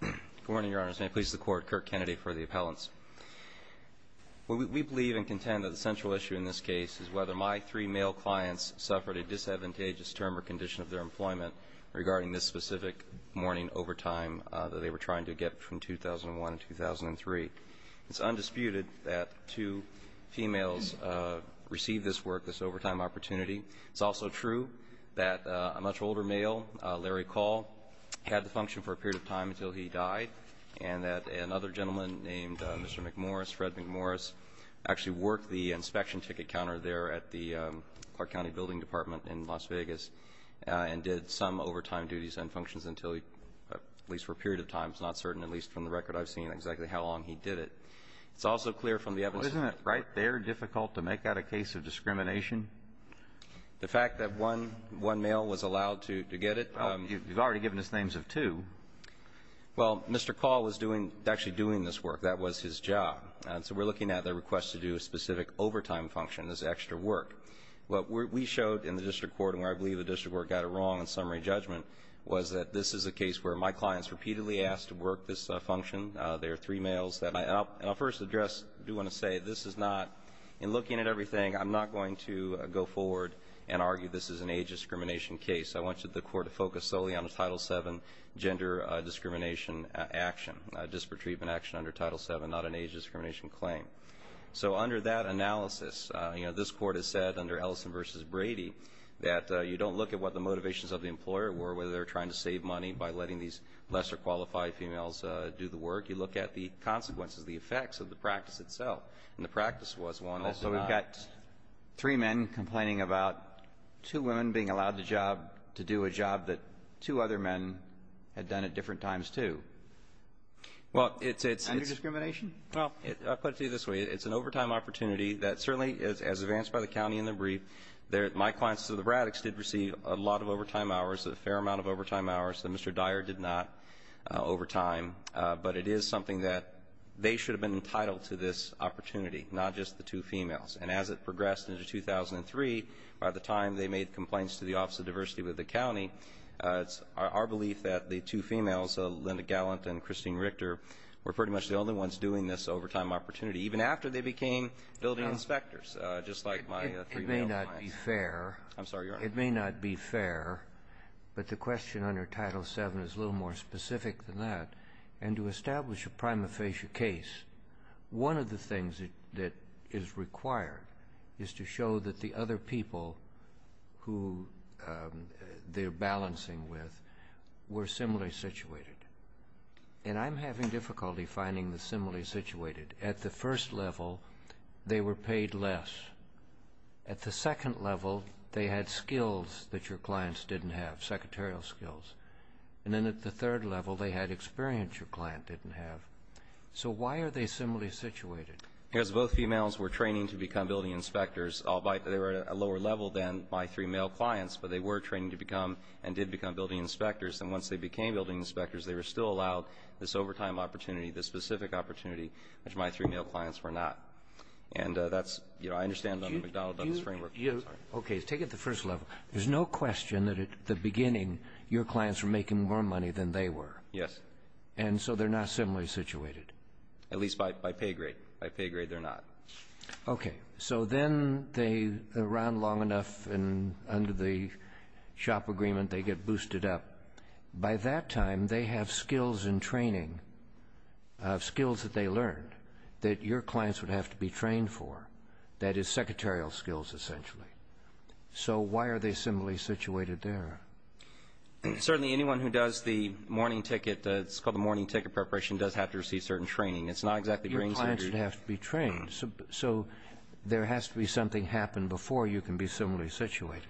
Good morning, Your Honors. May it please the Court, Kirk Kennedy for the Appellants. We believe and contend that the central issue in this case is whether my three male clients suffered a disadvantageous term or condition of their employment regarding this specific morning overtime that they were trying to get from 2001 to 2003. It's undisputed that two females received this work, this overtime opportunity. It's also true that a much older male, Larry Call, had the function for a period of time until he died and that another gentleman named Mr. McMorris, Fred McMorris actually worked the inspection ticket counter there at the Clark County Building Department in Las Vegas and did some overtime duties and functions until, at least for a period of time, it's not certain, at least from the record I've seen exactly how long he did it. It's also clear from the evidence... Isn't it right there difficult to make that a case of discrimination? The fact that one male was allowed to get it... You've already given us names of two. Well, Mr. Call was doing, actually doing this work. That was his job. So we're looking at the request to do a specific overtime function, this extra work. What we showed in the district court, and where I believe the district court got it wrong in summary judgment, was that this is a case where my clients repeatedly asked to work this function. There are three males. And I'll first address, I do want to say, this is not, in looking at everything, I'm not going to go forward and argue this is an age discrimination case. I want you, the Court, to focus solely on the Title VII gender discrimination action, disparate treatment action under Title VII, not an age discrimination claim. So under that analysis, you know, this Court has said under Ellison v. Brady that you don't look at what the motivations of the employer were, whether they're trying to save money by letting these lesser qualified females do the work. You look at the consequences, the effects of the practice itself. And the practice was one that... three men complaining about two women being allowed the job to do a job that two other men had done at different times, too. Under discrimination? Well, I'll put it to you this way. It's an overtime opportunity that certainly, as advanced by the County in the brief, my clients to the Braddocks did receive a lot of overtime hours, a fair amount of overtime hours, that Mr. Dyer did not overtime. But it is something that they should have been entitled to this opportunity, not just the two females. And as it progressed into 2003, by the time they made complaints to the Office of Diversity with the County, it's our belief that the two females, Linda Gallant and Christine Richter, were pretty much the only ones doing this overtime opportunity, even after they became building inspectors, just like my three male clients. It may not be fair, but the question under Title VII is a little more specific than that. And to establish a prima facie case, one of the things that is required is to show that the other people who they're balancing with were similarly situated. And I'm having difficulty finding the similarly situated. At the first level, they were paid less. At the second level, they had skills that your clients didn't have, secretarial skills. And then at the third level, they had experience your client didn't have. So why are they similarly situated? Because both females were training to become building inspectors. They were at a lower level than my three male clients, but they were training to become, and did become, building inspectors. And once they became building inspectors, they were still allowed this overtime opportunity, this specific opportunity, which my three male clients were not. And that's, you know, I understand under McDonnell Douglas framework. Okay, take it to the first level. There's no question that at the beginning, your clients were making more money than they were. Yes. And so they're not similarly situated. At least by pay grade. By pay grade, they're not. Okay. So then they, around long enough and under the shop agreement, they get boosted up. By that time, they have skills in training, skills that they learned that your clients would have to be trained for. That is secretarial skills, essentially. So why are they similarly situated there? Certainly anyone who does the morning ticket, it's called the morning ticket preparation, does have to receive certain training. It's not exactly brain surgery. Your clients would have to be trained. So there has to be something happen before you can be similarly situated.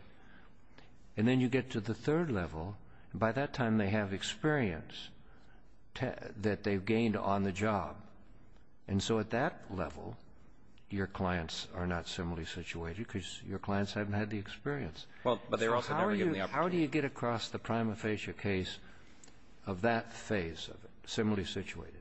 And then you get to the third level. By that time, they have experience that they've gained on the job. And so at that level, your clients are not similarly situated because your clients haven't had the experience. So how do you get across the prima facie case of that phase of similarly situated?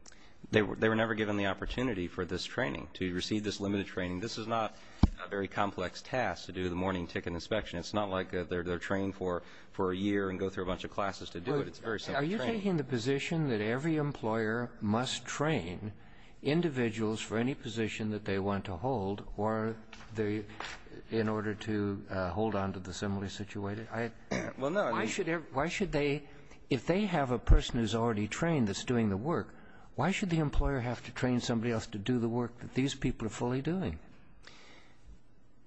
They were never given the opportunity for this training, to receive this limited training. This is not a very complex task to do the morning ticket inspection. It's not like they're trained for a year and go through a bunch of classes to do it. It's very simple training. Are you taking the position that every employer must train individuals for any position that they want to hold in order to hold on to the similarly situated? Why should they, if they have a person who's already trained that's doing the work, why should the employer have to train somebody else to do the work that these people are fully doing?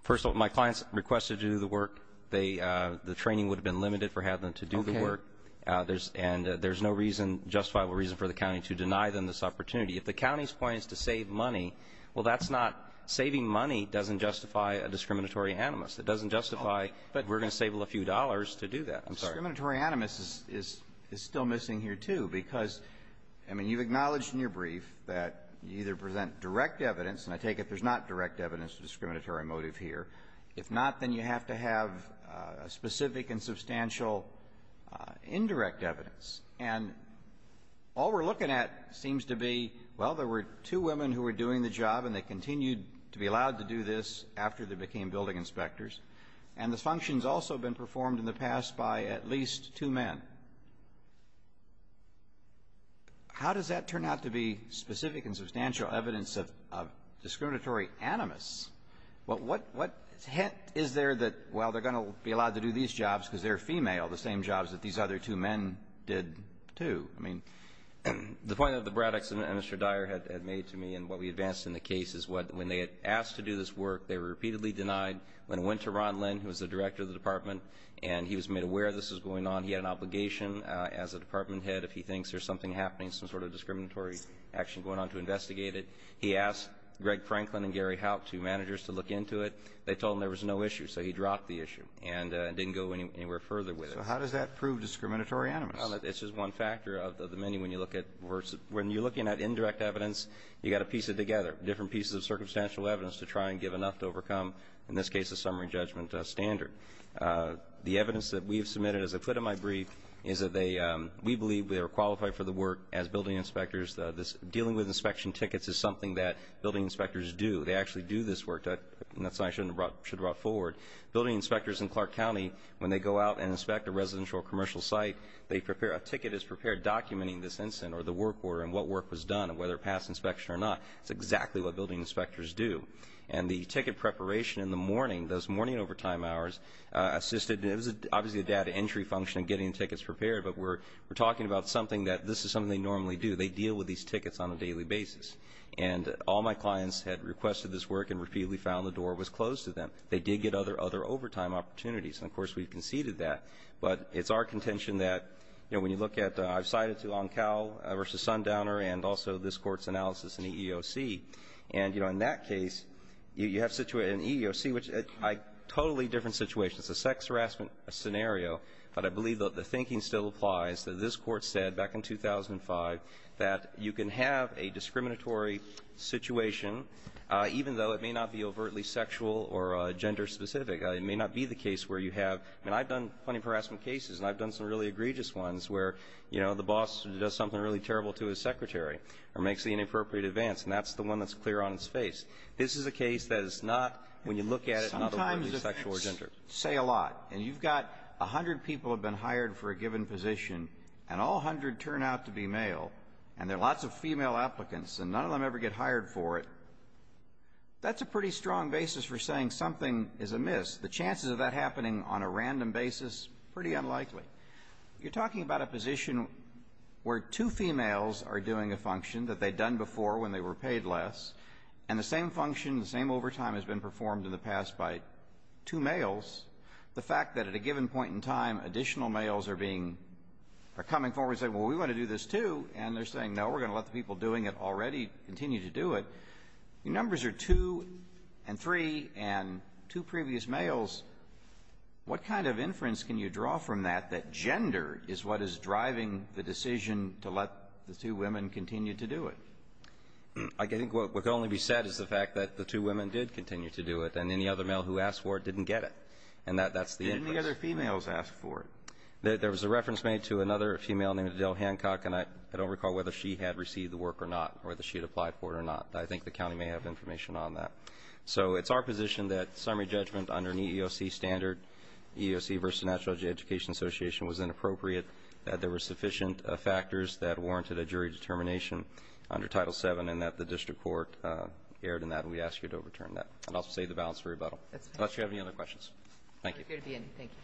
First of all, my clients requested to do the work. The training would have been limited for having them to do the work. And there's no reason, justifiable reason for the county to deny them this opportunity. If the county's point is to save money, well that's not, saving money doesn't justify a discriminatory animus. It doesn't justify, but we're going to save a few dollars to do that. Discriminatory animus is still missing here too, because you've acknowledged in your brief that you either present direct evidence, and I take it there's not direct evidence of discriminatory motive here. If not, then you have to have specific and substantial indirect evidence. And all we're looking at seems to be well, there were two women who were doing the job, and they continued to be allowed to do this after they became building inspectors. And the function's also been performed in the past by at least two men. How does that turn out to be specific and substantial evidence of discriminatory animus? What hint is there that, well, they're going to be allowed to do these jobs because they're female, the same jobs that these other two men did too? I mean, the point that the Braddocks and Mr. Dyer had made to me and what we advanced in the case is when they had asked to do this work, they were repeatedly denied. When it went to Ron Lynn, who was the director of the department, and he was made aware this was going on, he had an obligation as a department head if he thinks there's something happening, some sort of discriminatory action going on to investigate it, he asked Greg Franklin and Gary Haupt, two managers, to look into it. They told him there was no issue, so he dropped the issue and didn't go anywhere further with it. So how does that prove discriminatory animus? It's just one factor of the many. When you're looking at indirect evidence, you've got to piece it together, different pieces of circumstantial evidence to try and give enough to overcome, in this case, a summary judgment standard. The evidence that we've submitted, as I put in my brief, is that we believe they are qualified for the work as building inspectors. Dealing with inspection tickets is something that building inspectors do. They actually do this work, and that's something I should have brought forward. Building inspectors in Clark County, when they go out and inspect a residential or commercial site, a ticket is prepared documenting this incident or the work order and what work was done, and whether it passed inspection or not. That's exactly what building inspectors do. The ticket preparation in the morning, those morning overtime hours, it was obviously a data entry function in getting tickets prepared, but we're talking about something that this is something they normally do. They deal with these tickets on a daily basis. All my clients had requested this work and repeatedly found the door was closed to them. They did get other overtime opportunities, and, of course, we've conceded that. But it's our contention that, you know, when you look at, I've cited to Oncal v. Sundowner and also this Court's analysis in EEOC, and, you know, in that case, you have situated in EEOC, which is a totally different situation. It's a sex harassment scenario, but I believe that the thinking still applies, that this Court said back in 2005 that you can have a discriminatory situation, even though it may not be overtly sexual or gender specific. It may not be the case where you have — I mean, I've done plenty of harassment cases, and I've done some really egregious ones where, you know, the boss does something really terrible to his secretary or makes the inappropriate advance, and that's the one that's clear on his face. This is a case that is not, when you look at it, not overtly sexual or gender. Sometimes the facts say a lot, and you've got a hundred people have been hired for a given position, and all hundred turn out to be male, and there are lots of female applicants, and none of them ever get hired for it. That's a pretty strong basis for saying something is amiss. The chances of that happening on a random basis, pretty unlikely. You're talking about a position where two females are doing a function that they'd done before when they were paid less, and the same function, the same overtime has been performed in the past by two males. The fact that at a given point in time, additional males are being — are coming forward and saying, well, we want to do this, too, and they're saying, no, we're going to let the people doing it already continue to do it, the numbers are two and three and two previous males. What kind of inference can you draw from that that gender is what is driving the decision to let the two women continue to do it? I think what can only be said is the fact that the two women did continue to do it, and any other male who asked for it didn't get it. And that's the inference. Didn't any other females ask for it? There was a reference made to another female named Adele Hancock, and I don't recall whether she had received the work or not, or whether she had applied for it or not. I think the county may have information on that. So it's our position that summary judgment under an EEOC standard, EEOC versus the National Education Association, was inappropriate, that there were sufficient factors that warranted a jury determination under Title VII, and that the district court erred in that, and we ask you to overturn that. And also save the balance for rebuttal. Unless you have any other questions. Thank you. We're here to be ended. Thank you.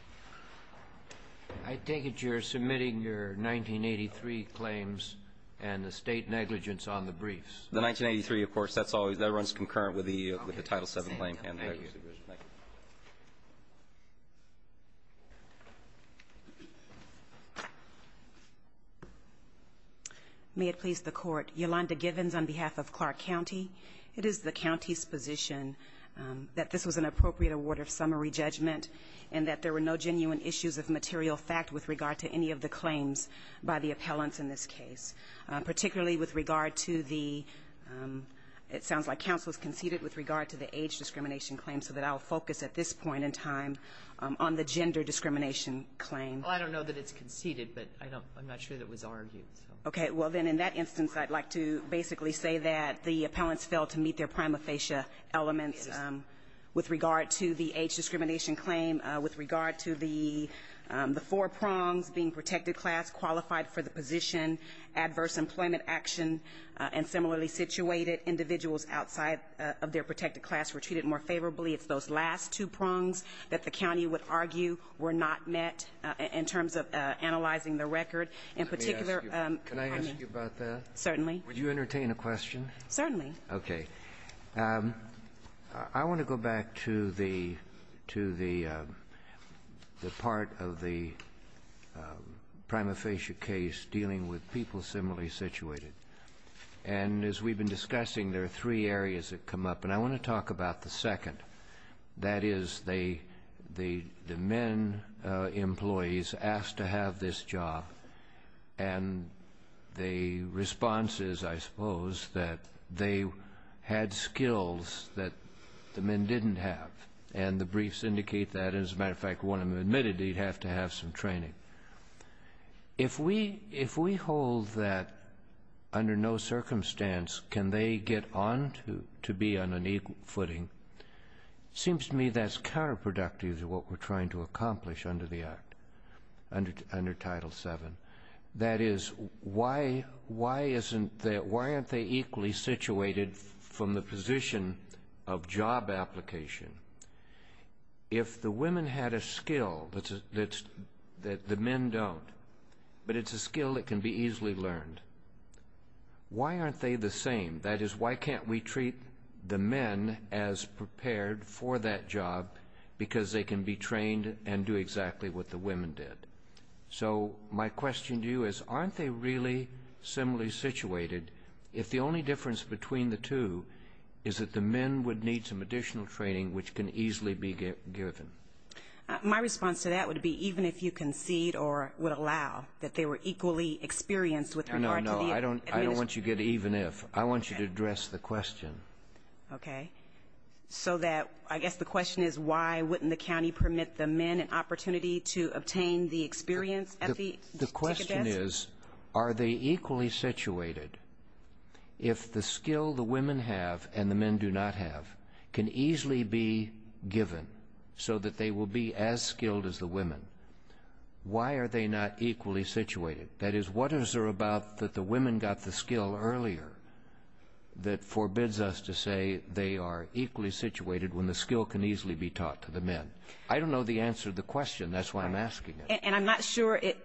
I take it you're submitting your 1983 claims and the State negligence on the briefs. The 1983, of course, that runs concurrent with the Title VII claim. Thank you. Thank you. May it please the Court. Yolanda Givens on behalf of Clark County. It is the county's position that this was an appropriate award of summary judgment and that there were no genuine issues of material fact with regard to any of the claims by the appellants in this case. Particularly with regard to the, it sounds like counsel has conceded, with regard to the age discrimination claim, so that I'll focus at this point in time on the gender discrimination claim. Well, I don't know that it's conceded, but I'm not sure that it was argued. Okay. Well, then, in that instance, I'd like to basically say that the appellants failed to meet their prima facie elements. It is. With regard to the age discrimination claim, with regard to the four prongs, being protected class, qualified for the position, adverse employment action, and similarly situated individuals outside of their protected class were treated more favorably. It's those last two prongs that the county would argue were not met in terms of analyzing the record. In particular, I mean. Can I ask you about that? Certainly. Would you entertain a question? Certainly. Okay. I want to go back to the part of the prima facie case dealing with people similarly situated. And as we've been discussing, there are three areas that come up. And I want to talk about the second. That is the men employees asked to have this job, and the response is, I suppose, that they had skills that the men didn't have. And the briefs indicate that. As a matter of fact, one of them admitted he'd have to have some training. If we hold that under no circumstance can they get on to be on an equal footing, it seems to me that's counterproductive to what we're trying to accomplish under the Act, under Title VII. That is, why aren't they equally situated from the position of job application? If the women had a skill that the men don't, but it's a skill that can be easily learned, why aren't they the same? That is, why can't we treat the men as prepared for that job because they can be trained and do exactly what the women did? So my question to you is, aren't they really similarly situated if the only difference between the two is that the men would need some additional training which can easily be given? My response to that would be even if you concede or would allow that they were equally experienced with regard to the administration. No, no, no. I don't want you to get even if. I want you to address the question. Okay. So that I guess the question is why wouldn't the county permit the men an opportunity to obtain the experience at the ticket desk? The question is, are they equally situated if the skill the women have and the men do not have can easily be given so that they will be as skilled as the women? Why are they not equally situated? That is, what is there about that the women got the skill earlier that forbids us to say they are equally situated when the skill can easily be taught to the men? I don't know the answer to the question. That's why I'm asking it. And I'm not sure, if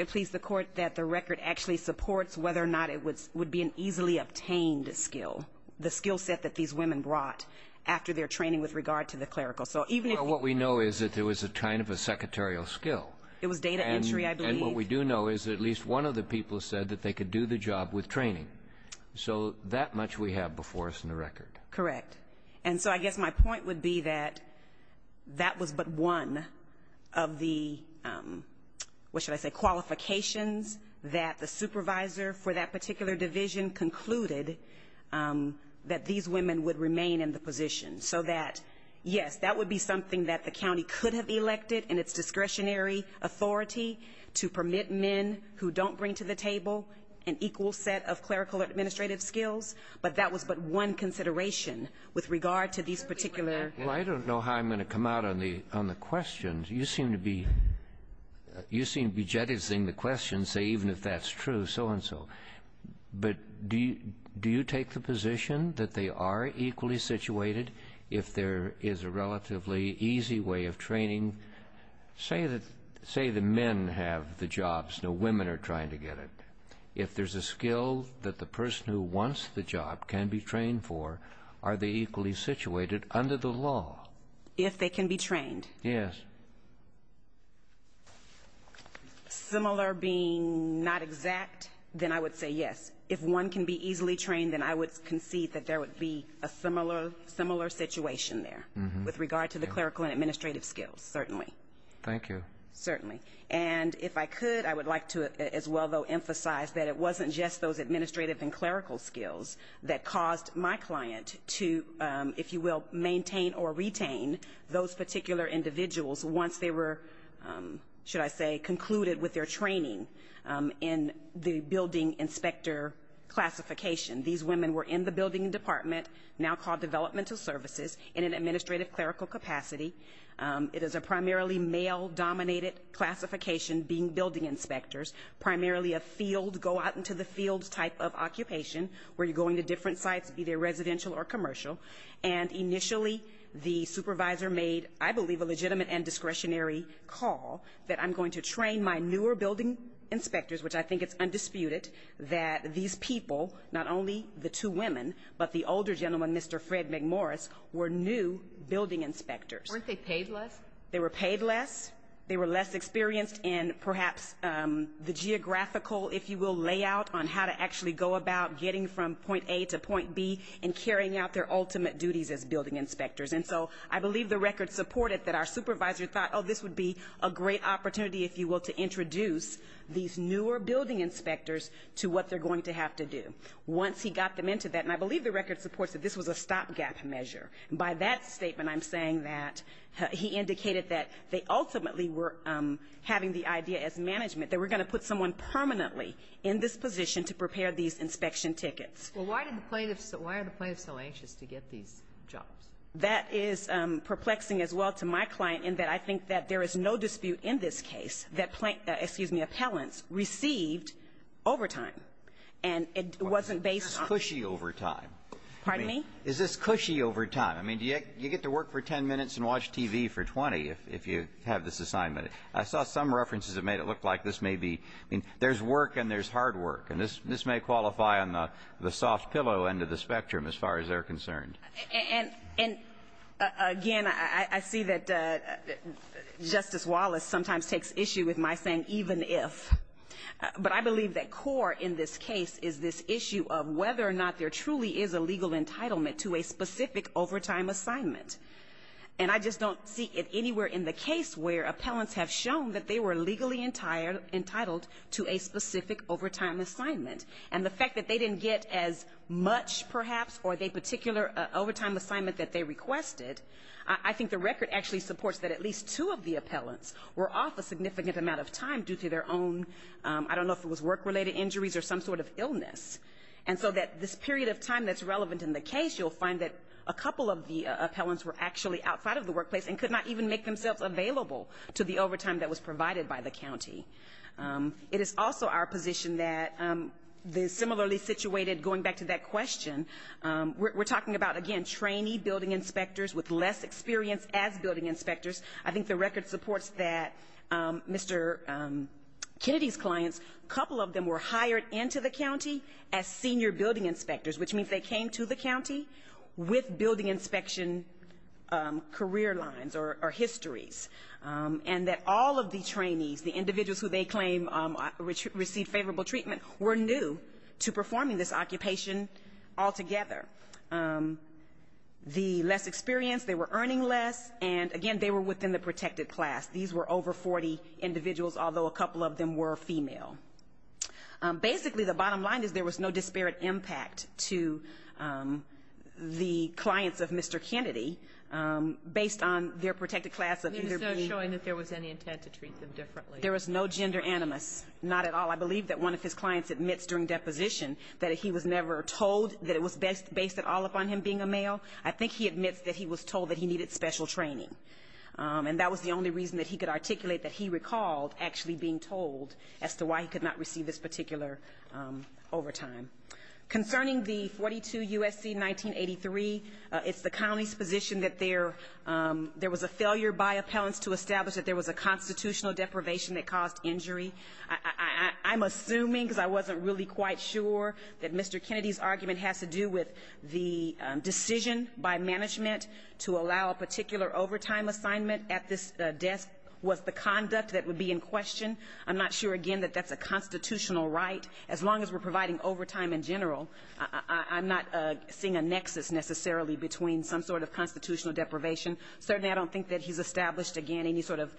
it pleases the Court, that the record actually supports whether or not it would be an easily obtained skill, the skill set that these women brought after their training with regard to the clerical. Well, what we know is that it was kind of a secretarial skill. It was data entry, I believe. And what we do know is at least one of the people said that they could do the job with training. So that much we have before us in the record. Correct. And so I guess my point would be that that was but one of the, what should I say, qualifications that the supervisor for that particular division concluded that these women would remain in the position. So that, yes, that would be something that the county could have elected in its discretionary authority to permit men who don't bring to the table an equal set of clerical administrative skills. But that was but one consideration with regard to these particular. Well, I don't know how I'm going to come out on the questions. You seem to be jettisoning the questions, even if that's true, so-and-so. But do you take the position that they are equally situated if there is a relatively easy way of training? Say the men have the jobs, no, women are trying to get it. If there's a skill that the person who wants the job can be trained for, are they equally situated under the law? If they can be trained? Yes. Similar being not exact, then I would say yes. If one can be easily trained, then I would concede that there would be a similar situation there with regard to the clerical and administrative skills, certainly. Thank you. Certainly. And if I could, I would like to as well, though, emphasize that it wasn't just those administrative and clerical skills that caused my client to, if you will, maintain or retain those particular individuals once they were, should I say, concluded with their training in the building inspector classification. These women were in the building department, now called developmental services, in an administrative clerical capacity. It is a primarily male-dominated classification, being building inspectors, primarily a field, type of occupation where you're going to different sites, be they residential or commercial. And initially the supervisor made, I believe, a legitimate and discretionary call that I'm going to train my newer building inspectors, which I think it's undisputed that these people, not only the two women, but the older gentleman, Mr. Fred McMorris, were new building inspectors. Weren't they paid less? They were paid less. They were less experienced in perhaps the geographical, if you will, layout on how to actually go about getting from point A to point B and carrying out their ultimate duties as building inspectors. And so I believe the record supported that our supervisor thought, oh, this would be a great opportunity, if you will, to introduce these newer building inspectors to what they're going to have to do. Once he got them into that, and I believe the record supports that this was a stopgap measure, by that statement I'm saying that he indicated that they ultimately were having the idea as management that we're going to put someone permanently in this position to prepare these inspection tickets. Well, why did the plaintiffs so anxious to get these jobs? That is perplexing as well to my client in that I think that there is no dispute in this case that, excuse me, appellants received overtime. And it wasn't based on the ---- Is this cushy overtime? Pardon me? Is this cushy overtime? I mean, do you get to work for 10 minutes and watch TV for 20 if you have this assignment? I saw some references that made it look like this may be ---- I mean, there's work and there's hard work. And this may qualify on the soft pillow end of the spectrum as far as they're concerned. And, again, I see that Justice Wallace sometimes takes issue with my saying even if. But I believe that core in this case is this issue of whether or not there truly is a legal entitlement to a specific overtime assignment. And I just don't see it anywhere in the case where appellants have shown that they were legally entitled to a specific overtime assignment. And the fact that they didn't get as much, perhaps, or the particular overtime assignment that they requested, I think the record actually supports that at least two of the appellants were off a significant amount of time due to their own, I don't know if it was work-related injuries or some sort of illness. And so that this period of time that's relevant in the case, you'll find that a couple of the appellants were actually outside of the workplace and could not even make themselves available to the overtime that was provided by the county. It is also our position that the similarly situated, going back to that question, we're talking about, again, trainee building inspectors with less experience as building inspectors. I think the record supports that Mr. Kennedy's clients, a couple of them were hired into the county as senior building inspectors, which means they came to the county with building inspection career lines or histories, and that all of the trainees, the individuals who they claim received favorable treatment, were new to performing this occupation altogether. The less experienced, they were earning less, and, again, they were within the protected class. These were over 40 individuals, although a couple of them were female. Basically, the bottom line is there was no disparate impact to the clients of Mr. Kennedy, based on their protected class of either being or not. There was no showing that there was any intent to treat them differently. There was no gender animus, not at all. I believe that one of his clients admits during deposition that he was never told that it was based at all upon him being a male. I think he admits that he was told that he needed special training, and that was the only reason that he could articulate that he recalled actually being told as to why he could not receive this particular overtime. Concerning the 42 U.S.C. 1983, it's the county's position that there was a failure by appellants to establish that there was a constitutional deprivation that caused injury. I'm assuming, because I wasn't really quite sure, that Mr. Kennedy's argument has to do with the decision by management to allow a particular overtime assignment at this desk was the conduct that would be in question. I'm not sure, again, that that's a constitutional right. As long as we're providing overtime in general, I'm not seeing a nexus necessarily between some sort of constitutional deprivation. Certainly, I don't think that he's established, again, any sort of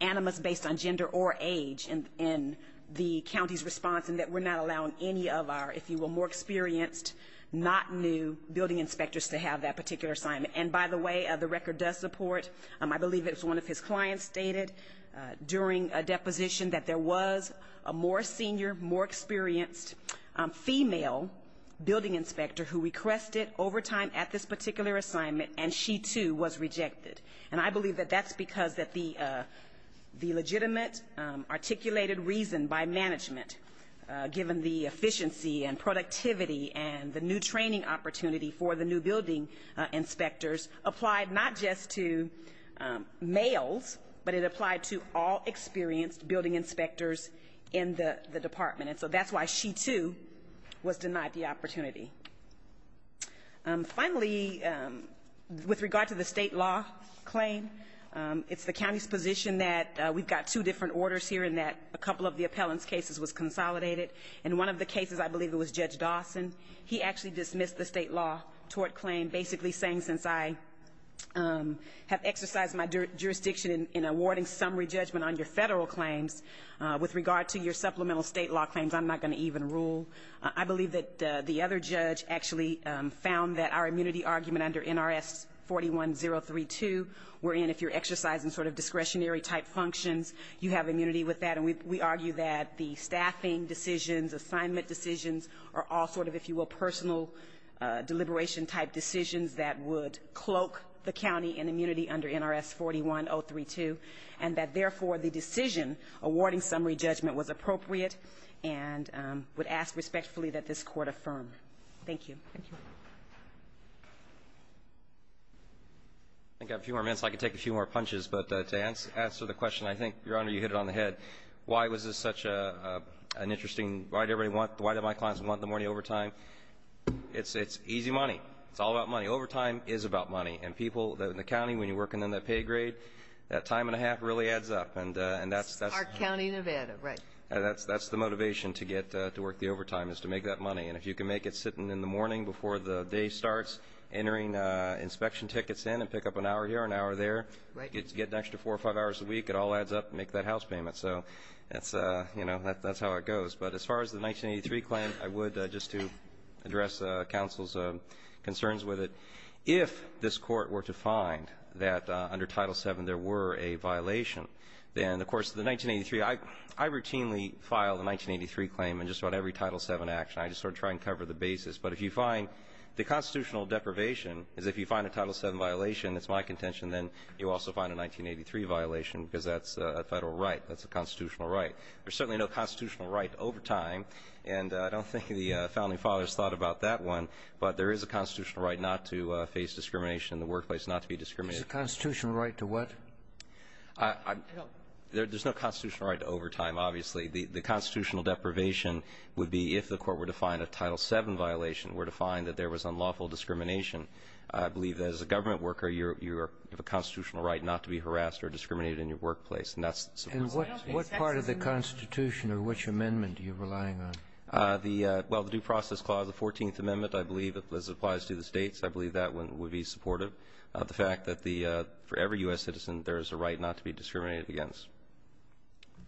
animus based on gender or age in the county's response and that we're not allowing any of our, if you will, more experienced, not new building inspectors to have that particular assignment. And by the way, the record does support, I believe it was one of his clients stated during a deposition, that there was a more senior, more experienced female building inspector who requested overtime at this particular assignment, and she, too, was rejected. And I believe that that's because the legitimate articulated reason by management, given the efficiency and productivity and the new training opportunity for the new building inspectors, applied not just to males, but it applied to all experienced building inspectors in the department. And so that's why she, too, was denied the opportunity. Finally, with regard to the state law claim, it's the county's position that we've got two different orders here and that a couple of the appellant's cases was consolidated. And one of the cases, I believe it was Judge Dawson, he actually dismissed the state law tort claim basically saying, since I have exercised my jurisdiction in awarding summary judgment on your federal claims, with regard to your supplemental state law claims, I'm not going to even rule. I believe that the other judge actually found that our immunity argument under NRS 41032, wherein if you're exercising sort of discretionary-type functions, you have immunity with that. And we argue that the staffing decisions, assignment decisions, are all sort of, if you will, personal deliberation-type decisions that would cloak the county in immunity under NRS 41032, and that, therefore, the decision awarding summary judgment was appropriate and would ask respectfully that this court affirm. Thank you. I've got a few more minutes so I can take a few more punches. But to answer the question, I think, Your Honor, you hit it on the head. Why was this such an interesting, why did my clients want the morning overtime? It's easy money. It's all about money. Overtime is about money. And people in the county, when you're working on that pay grade, that time and a half really adds up. And that's the motivation to get to work the overtime is to make that money. And if you can make it sitting in the morning before the day starts, entering inspection tickets in and pick up an hour here, an hour there, get an extra four or five hours a week, it all adds up and make that house payment. So that's how it goes. But as far as the 1983 claim, I would, just to address counsel's concerns with it, if this court were to find that under Title VII there were a violation, then, of course, the 1983, I routinely file the 1983 claim in just about every Title VII action. I just sort of try and cover the basis. But if you find the constitutional deprivation is if you find a Title VII violation, that's my contention, then you also find a 1983 violation because that's a federal right. That's a constitutional right. There's certainly no constitutional right to overtime. And I don't think the founding fathers thought about that one. But there is a constitutional right not to face discrimination in the workplace, not to be discriminated. There's a constitutional right to what? There's no constitutional right to overtime, obviously. The constitutional deprivation would be if the court were to find a Title VII violation, were to find that there was unlawful discrimination. I believe that as a government worker you have a constitutional right not to be harassed or discriminated in your workplace. And that's the Supreme Court's decision. And what part of the Constitution or which amendment are you relying on? Well, the Due Process Clause, the 14th Amendment, I believe, as it applies to the states, I believe that one would be supportive of the fact that for every U.S. citizen, there is a right not to be discriminated against.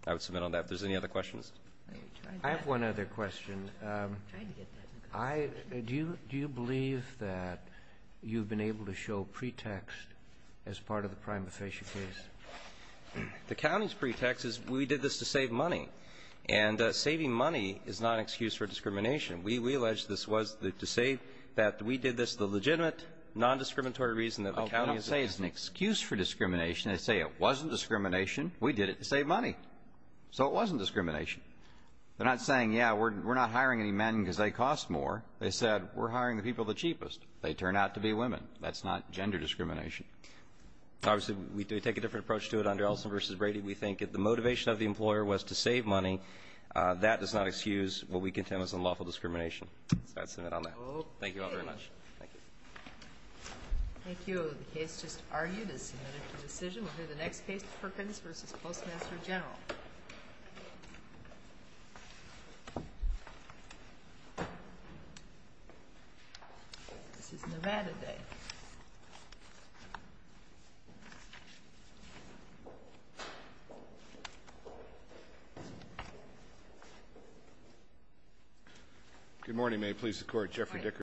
I would submit on that. If there's any other questions. I have one other question. Do you believe that you've been able to show pretext as part of the prima facie case? The county's pretext is we did this to save money. And saving money is not an excuse for discrimination. We allege this was to save that. We did this the legitimate, non-discriminatory reason that the county is a county. I don't say it's an excuse for discrimination. I say it wasn't discrimination. We did it to save money. So it wasn't discrimination. They're not saying, yeah, we're not hiring any men because they cost more. They said, we're hiring the people the cheapest. They turn out to be women. That's not gender discrimination. Obviously, we take a different approach to it under Ellison v. Brady. We think if the motivation of the employer was to save money, that does not excuse what we contend was unlawful discrimination. So I'd submit on that. Thank you all very much. Thank you. Thank you. The case just argued is submitted to decision. We'll hear the next case, Perkins v. Postmaster General. This is Nevada Day. Good morning. May it please the Court. Jeffrey Dickerson. Good morning.